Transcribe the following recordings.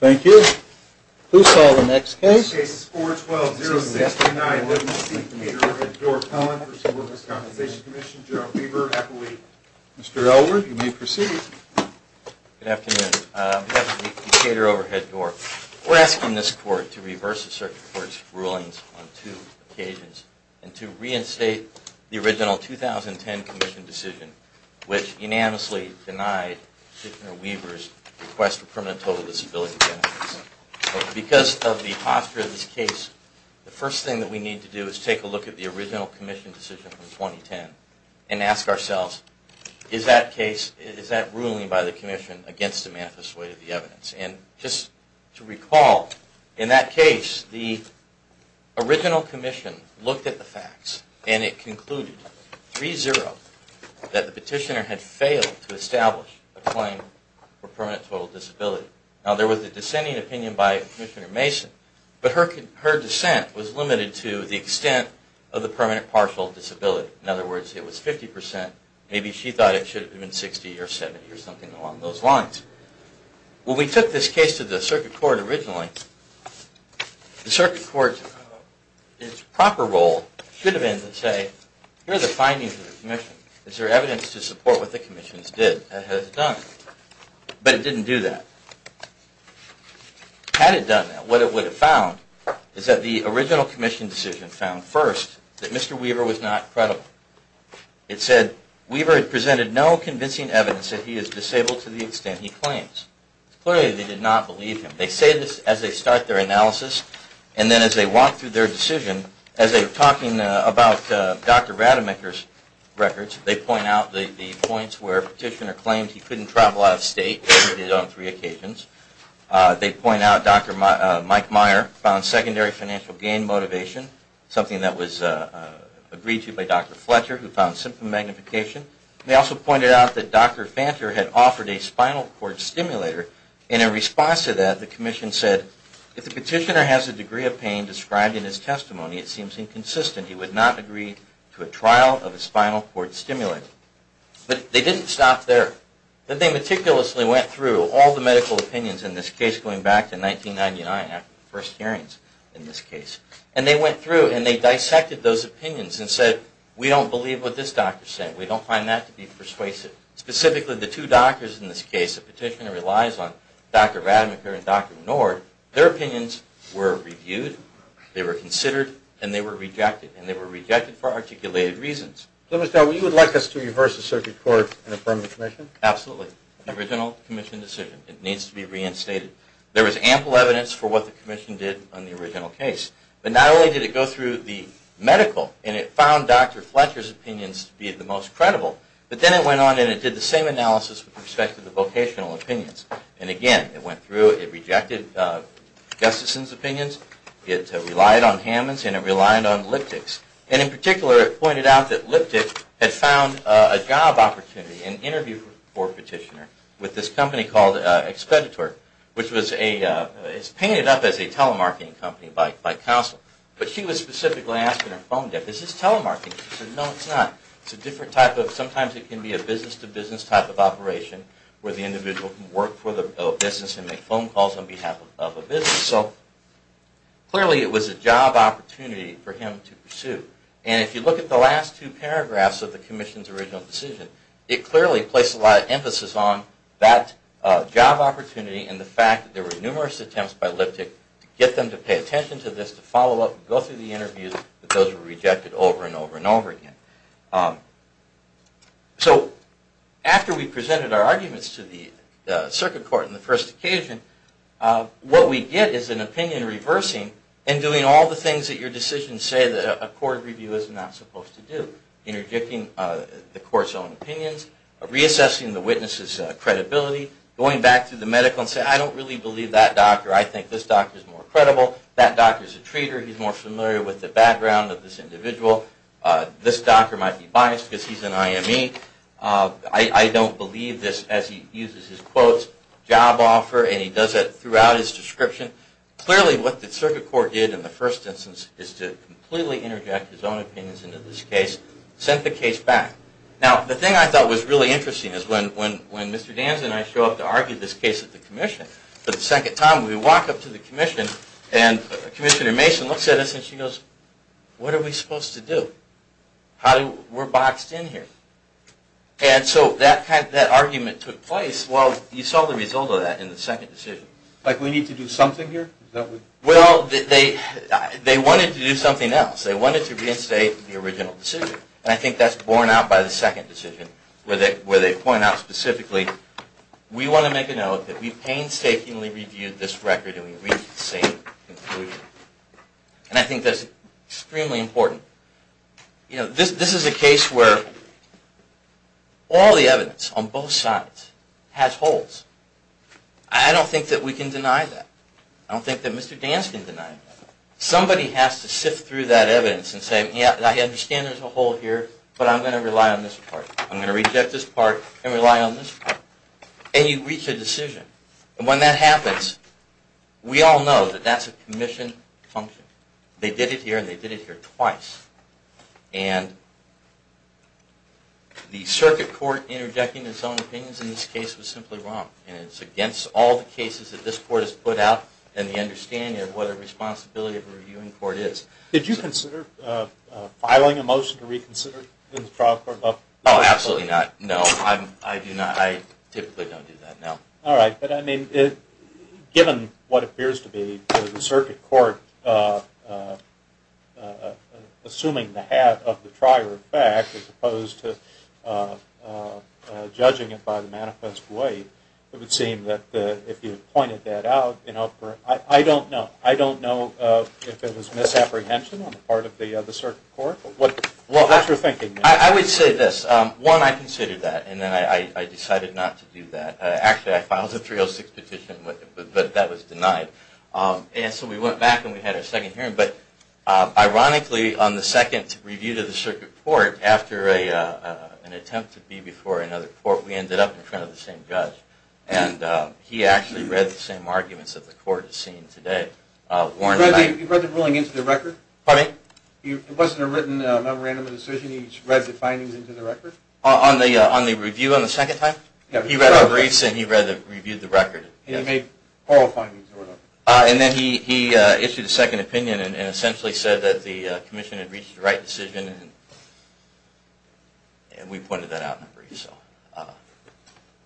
Thank you. Please call the next case. This case is 412-069-11C, Catur Overhead Door, Pelham v. Workers' Compensation Comm'n, General Weaver, Appellee. Mr. Elwood, you may proceed. Good afternoon. I'm here for the Catur Overhead Door. We're asking this Court to reverse the Circuit Court's rulings on two occasions and to reinstate the original 2010 Commission decision which unanimously denied Commissioner Weaver's request for permanent total disability benefits. Because of the posture of this case, the first thing that we need to do is take a look at the original Commission decision from 2010 and ask ourselves, is that ruling by the Commission against a manifest way of the evidence? And just to recall, in that case, the original Commission looked at the facts and it concluded 3-0 that the petitioner had failed to establish a claim for permanent total disability. Now, there was a dissenting opinion by Commissioner Mason, but her dissent was limited to the extent of the permanent partial disability. In other words, it was 50%. Maybe she thought it should have been 60% or 70% or something along those lines. When we took this case to the Circuit Court originally, the Circuit Court's proper role should have been to say, here are the findings of the Commission. Is there evidence to support what the Commission has done? But it didn't do that. Had it done that, what it would have found is that the original Commission decision found first that Mr. Weaver was not credible. It said, Weaver had presented no convincing evidence that he is disabled to the extent he claims. Clearly, they did not believe him. They say this as they start their analysis, and then as they walk through their decision, as they're talking about Dr. Rademacher's records, they point out the points where the petitioner claimed he couldn't travel out of state, which he did on three occasions. They point out Dr. Mike Meyer found secondary financial gain motivation, something that was agreed to by Dr. Fletcher, who found symptom magnification. They also pointed out that Dr. Fanter had offered a spinal cord stimulator, and in response to that, the Commission said, if the petitioner has a degree of pain described in his testimony, it seems inconsistent. He would not agree to a trial of a spinal cord stimulator. But they didn't stop there. They meticulously went through all the medical opinions in this case, going back to 1999 after the first hearings in this case. And they went through and they dissected those opinions and said, we don't believe what this doctor is saying. We don't find that to be persuasive. Specifically, the two doctors in this case, the petitioner relies on Dr. Rademacher and Dr. Menard, their opinions were reviewed, they were considered, and they were rejected. And they were rejected for articulated reasons. So you would like us to reverse the circuit court and affirm the Commission? Absolutely. The original Commission decision. It needs to be reinstated. There was ample evidence for what the Commission did on the original case. But not only did it go through the medical, and it found Dr. Fletcher's opinions to be the most credible, but then it went on and it did the same analysis with respect to the vocational opinions. And again, it went through, it rejected Gustafson's opinions, it relied on Hammond's, and it relied on Liptick's. And in particular, it pointed out that Liptick had found a job opportunity, an interview for a petitioner with this company called Expeditor, which was painted up as a telemarketing company by counsel. But she was specifically asked in her phone deck, is this telemarketing? She said, no, it's not. It's a different type of, sometimes it can be a business-to-business type of operation, where the individual can work for the business and make phone calls on behalf of a business. So clearly it was a job opportunity for him to pursue. And if you look at the last two paragraphs of the Commission's original decision, it clearly placed a lot of emphasis on that job opportunity and the fact that there were numerous attempts by Liptick to get them to pay attention to this, to follow up and go through the interviews, but those were rejected over and over and over again. So after we presented our arguments to the Circuit Court on the first occasion, what we get is an opinion reversing and doing all the things that your decisions say that a court review is not supposed to do. Interjecting the court's own opinions, reassessing the witness's credibility, going back to the medical and say, I don't really believe that doctor. I think this doctor's more credible. That doctor's a traitor. He's more familiar with the background of this individual. This doctor might be biased because he's an IME. I don't believe this, as he uses his quotes, job offer, and he does that throughout his description. Clearly, what the Circuit Court did in the first instance is to completely interject his own opinions into this case, sent the case back. Now, the thing I thought was really interesting is when Mr. Danza and I show up to argue this case at the commission, but the second time we walk up to the commission and Commissioner Mason looks at us and she goes, what are we supposed to do? We're boxed in here. And so that argument took place while you saw the result of that in the second decision. Like we need to do something here? Well, they wanted to do something else. They wanted to reinstate the original decision, and I think that's borne out by the second decision where they point out specifically, we want to make a note that we painstakingly reviewed this record and we reached the same conclusion. And I think that's extremely important. This is a case where all the evidence on both sides has holes. I don't think that we can deny that. I don't think that Mr. Danza can deny that. Somebody has to sift through that evidence and say, yeah, I understand there's a hole here, but I'm going to rely on this part. I'm going to reject this part and rely on this part. And you reach a decision. And when that happens, we all know that that's a commission function. They did it here and they did it here twice. And the circuit court interjecting its own opinions in this case was simply wrong. And it's against all the cases that this court has put out and the understanding of what a responsibility of a reviewing court is. Did you consider filing a motion to reconsider in the trial court? No, absolutely not. No, I do not. I typically don't do that, no. All right. But, I mean, given what appears to be the circuit court assuming the hat of the trier of fact as opposed to judging it by the manifest way, it would seem that if you pointed that out, you know, I don't know. I don't know if it was misapprehension on the part of the circuit court. What's your thinking? I would say this. One, I considered that, and then I decided not to do that. Actually, I filed a 306 petition, but that was denied. And so we went back and we had a second hearing. But, ironically, on the second review to the circuit court, after an attempt to be before another court, we ended up in front of the same judge. And he actually read the same arguments that the court has seen today. You read the ruling into the record? Pardon me? It wasn't a written, random decision. You just read the findings into the record? On the review on the second time? He read the briefs and he reviewed the record. And he made oral findings? And then he issued a second opinion and essentially said that the commission had reached the right decision. And we pointed that out in the brief.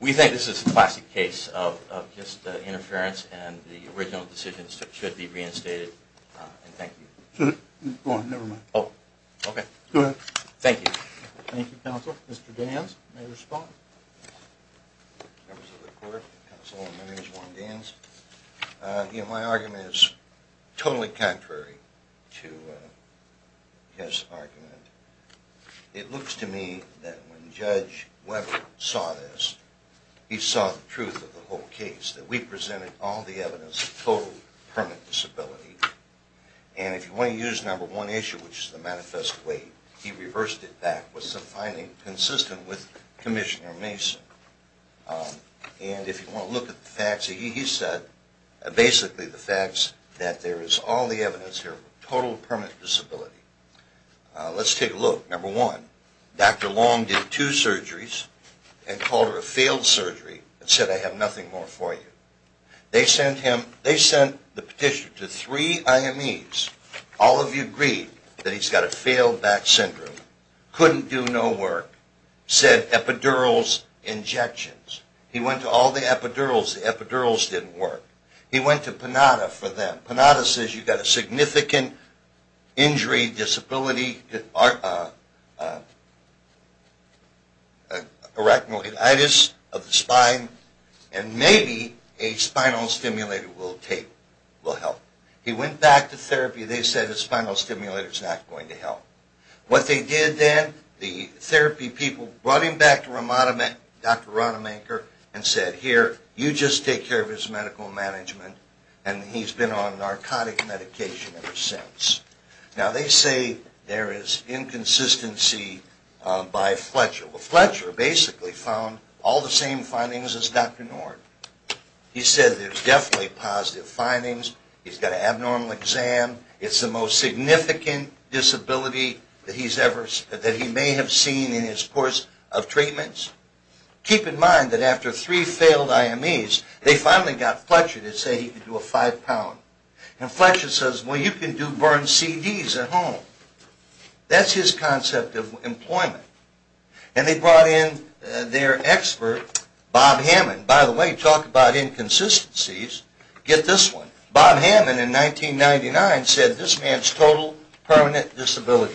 We think this is a classic case of just interference, and the original decision should be reinstated. And thank you. Go on, never mind. Oh, okay. Go ahead. Thank you. Thank you, counsel. Mr. Danz, may I respond? Members of the court, counsel, my name is Warren Danz. My argument is totally contrary to his argument. It looks to me that when Judge Weber saw this, he saw the truth of the whole case, that we presented all the evidence of total permanent disability. And if you want to use number one issue, which is the manifest way, he reversed it back with some findings consistent with Commissioner Mason. And if you want to look at the facts, he said basically the facts that there is all the evidence here of total permanent disability. Let's take a look. Number one, Dr. Long did two surgeries and called her a failed surgery and said, I have nothing more for you. They sent the petitioner to three IMEs. All of you agreed that he's got a failed back syndrome, couldn't do no work, sent epidurals, injections. He went to all the epidurals. The epidurals didn't work. He went to Panada for them. Panada says you've got a significant injury, disability, arachnoiditis of the spine, and maybe a spinal stimulator will help. He went back to therapy. They said a spinal stimulator is not going to help. What they did then, the therapy people brought him back to Dr. Ronemaker and said here, you just take care of his medical management and he's been on narcotic medication ever since. Now they say there is inconsistency by Fletcher. Well, Fletcher basically found all the same findings as Dr. Nord. He said there's definitely positive findings. He's got an abnormal exam. It's the most significant disability that he may have seen in his course of treatments. Keep in mind that after three failed IMEs, they finally got Fletcher to say he could do a five pound. And Fletcher says, well, you can do burn CDs at home. That's his concept of employment. And they brought in their expert, Bob Hammond. By the way, talk about inconsistencies. Get this one. Bob Hammond in 1999 said this man's total permanent disability.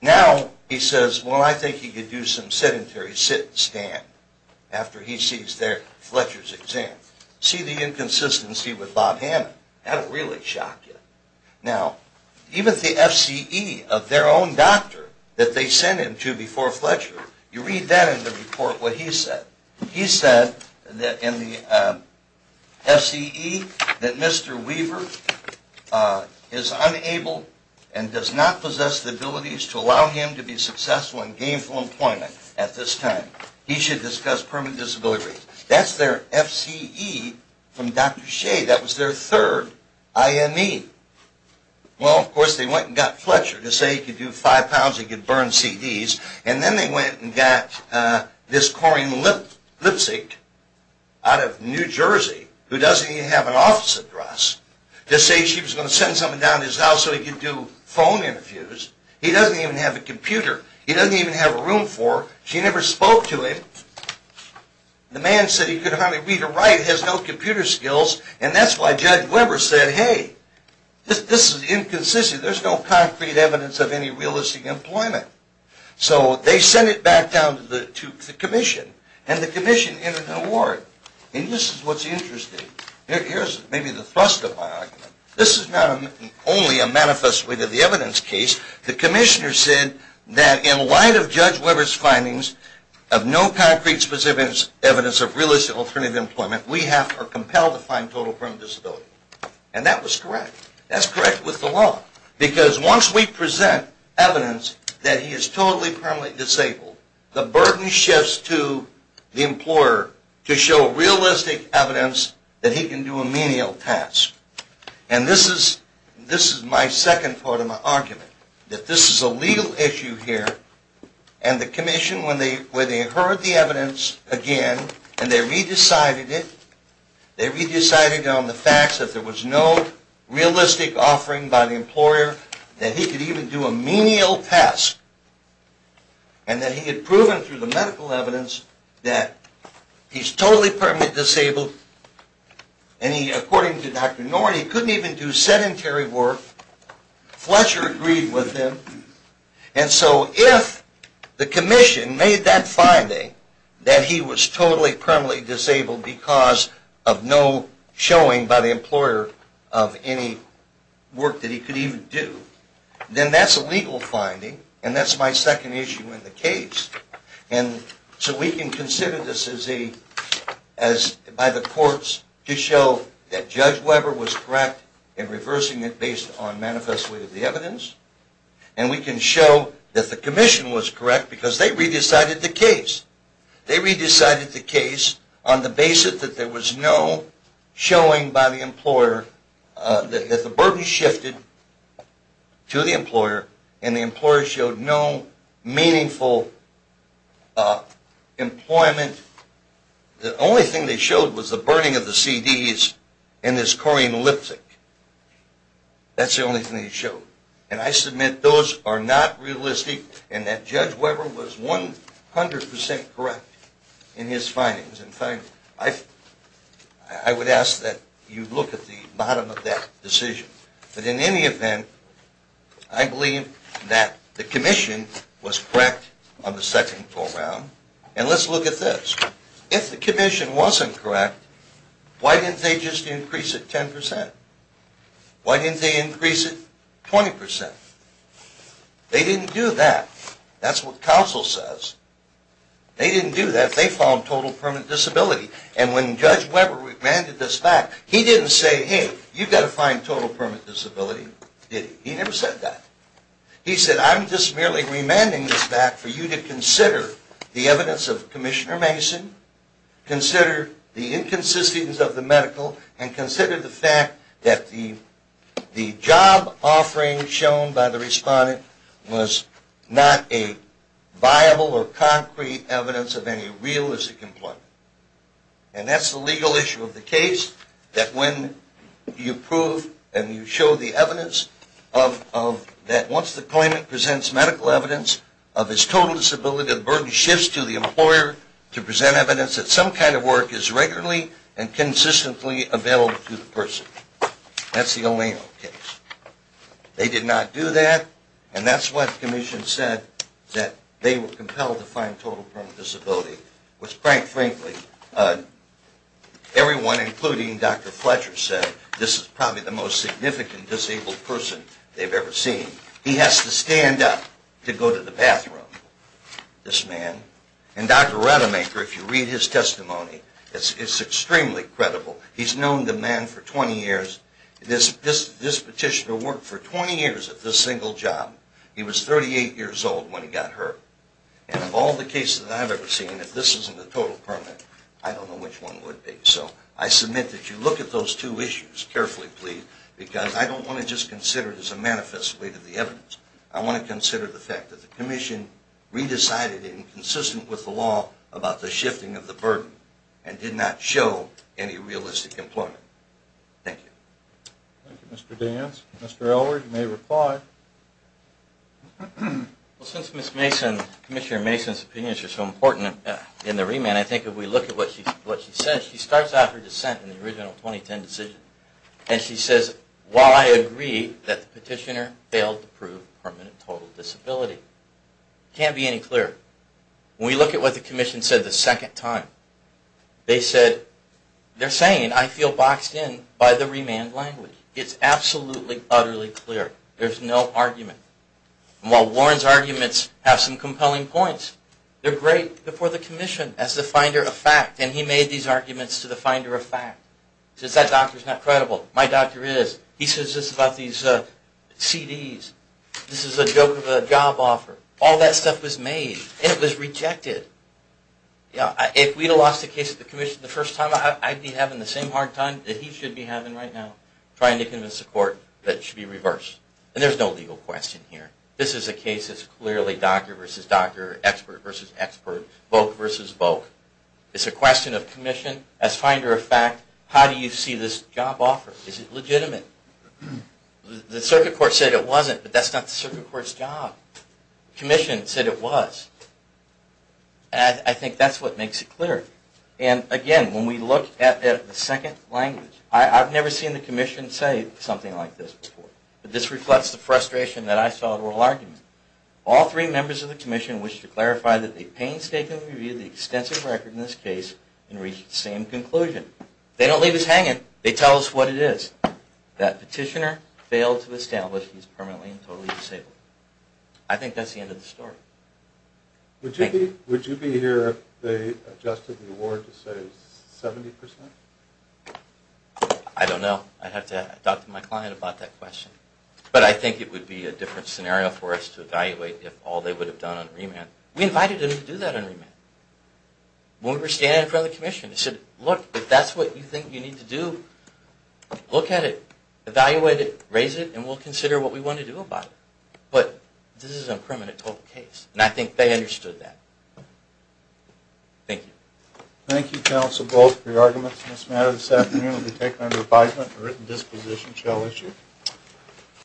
Now he says, well, I think he could do some sedentary sit and stand after he sees Fletcher's exam. See the inconsistency with Bob Hammond. That will really shock you. Now, even the FCE of their own doctor that they sent him to before Fletcher, you read that in the report what he said. He said in the FCE that Mr. Weaver is unable and does not possess the abilities to allow him to be successful in gainful employment at this time. He should discuss permanent disability rates. That's their FCE from Dr. Shea. That was their third IME. Well, of course, they went and got Fletcher to say he could do five pounds, he could burn CDs. And then they went and got this Corrine Lipzig out of New Jersey who doesn't even have an office address to say she was going to send something down to his house so he could do phone interviews. He doesn't even have a computer. He doesn't even have a room for her. She never spoke to him. The man said he could hardly read or write, has no computer skills, and that's why Judge Weber said, hey, this is inconsistent. There's no concrete evidence of any realistic employment. So they sent it back down to the commission, and the commission entered an award. And this is what's interesting. Here's maybe the thrust of my argument. This is not only a manifest with the evidence case. The commissioner said that in light of Judge Weber's findings of no concrete specific evidence of realistic alternative employment, we are compelled to find total permanent disability. And that was correct. That's correct with the law. Because once we present evidence that he is totally permanently disabled, the burden shifts to the employer to show realistic evidence that he can do a menial task. And this is my second part of my argument, that this is a legal issue here, and the commission, when they heard the evidence again and they re-decided it, they re-decided on the facts that there was no realistic offering by the employer, that he could even do a menial task, and that he had proven through the medical evidence that he's totally permanently disabled. And according to Dr. Norton, he couldn't even do sedentary work. Fletcher agreed with him. And so if the commission made that finding that he was totally permanently disabled because of no showing by the employer of any work that he could even do, then that's a legal finding, and that's my second issue in the case. And so we can consider this by the courts to show that Judge Weber was correct in reversing it based on manifestly the evidence, and we can show that the commission was correct because they re-decided the case. They re-decided the case on the basis that there was no showing by the employer, that the burden shifted to the employer, and the employer showed no meaningful employment. The only thing they showed was the burning of the CDs and his Corian lipstick. That's the only thing they showed. And I submit those are not realistic and that Judge Weber was 100% correct in his findings. In fact, I would ask that you look at the bottom of that decision. But in any event, I believe that the commission was correct on the second call round. And let's look at this. If the commission wasn't correct, why didn't they just increase it 10%? Why didn't they increase it 20%? They didn't do that. That's what counsel says. They didn't do that. They found total permit disability. And when Judge Weber remanded this back, he didn't say, hey, you've got to find total permit disability. He never said that. He said, I'm just merely remanding this back for you to consider the evidence of Commissioner Mason, consider the inconsistencies of the medical, and consider the fact that the job offering shown by the respondent was not a viable or concrete evidence of any realistic employment. And that's the legal issue of the case, that when you prove and you show the evidence that once the claimant presents medical evidence of his total disability, the burden shifts to the employer to present evidence that some kind of work is regularly and consistently available to the person. That's the O'Neill case. They did not do that, and that's why the commission said that they were compelled to find total permit disability, which, quite frankly, everyone, including Dr. Fletcher, said, this is probably the most significant disabled person they've ever seen. He has to stand up to go to the bathroom, this man. And Dr. Rademacher, if you read his testimony, it's extremely credible. He's known the man for 20 years. This petitioner worked for 20 years at this single job. He was 38 years old when he got hurt. And of all the cases I've ever seen, if this isn't a total permit, I don't know which one would be. So I submit that you look at those two issues carefully, please, because I don't want to just consider it as a manifest way to the evidence. I want to consider the fact that the commission re-decided inconsistent with the law about the shifting of the burden and did not show any realistic employment. Thank you. Thank you, Mr. Danz. Mr. Elwood, you may reply. Since Commissioner Mason's opinions are so important in the remand, I think if we look at what she says, she starts out her dissent in the original 2010 decision, and she says, while I agree that the petitioner failed to prove permanent total disability. It can't be any clearer. When we look at what the commission said the second time, they said, they're saying I feel boxed in by the remand language. It's absolutely, utterly clear. There's no argument. And while Warren's arguments have some compelling points, they're great before the commission as the finder of fact, and he made these arguments to the finder of fact. He says that doctor's not credible. My doctor is. He says this about these CDs. This is a joke of a job offer. All that stuff was made, and it was rejected. If we'd have lost the case to the commission the first time, I'd be having the same hard time that he should be having right now, trying to convince the court that it should be reversed. And there's no legal question here. This is a case that's clearly doctor versus doctor, expert versus expert, vogue versus vogue. It's a question of commission as finder of fact. How do you see this job offer? Is it legitimate? The circuit court said it wasn't, but that's not the circuit court's job. Commission said it was. And I think that's what makes it clear. And again, when we look at the second language, I've never seen the commission say something like this before. But this reflects the frustration that I saw in the oral argument. All three members of the commission wished to clarify that they painstakingly reviewed the extensive record in this case and reached the same conclusion. They don't leave us hanging. They tell us what it is. That petitioner failed to establish he's permanently and totally disabled. I think that's the end of the story. Thank you. Would you be here if they adjusted the award to, say, 70%? I don't know. I'd have to talk to my client about that question. But I think it would be a different scenario for us to evaluate if all they would have done on remand. We invited them to do that on remand. When we were standing in front of the commission, they said, look, if that's what you think you need to do, look at it, evaluate it, raise it, and we'll consider what we want to do about it. But this is a permanent total case. And I think they understood that. Thank you. Thank you, counsel, both, for your arguments in this matter. This afternoon will be taken under advisement. A written disposition shall issue.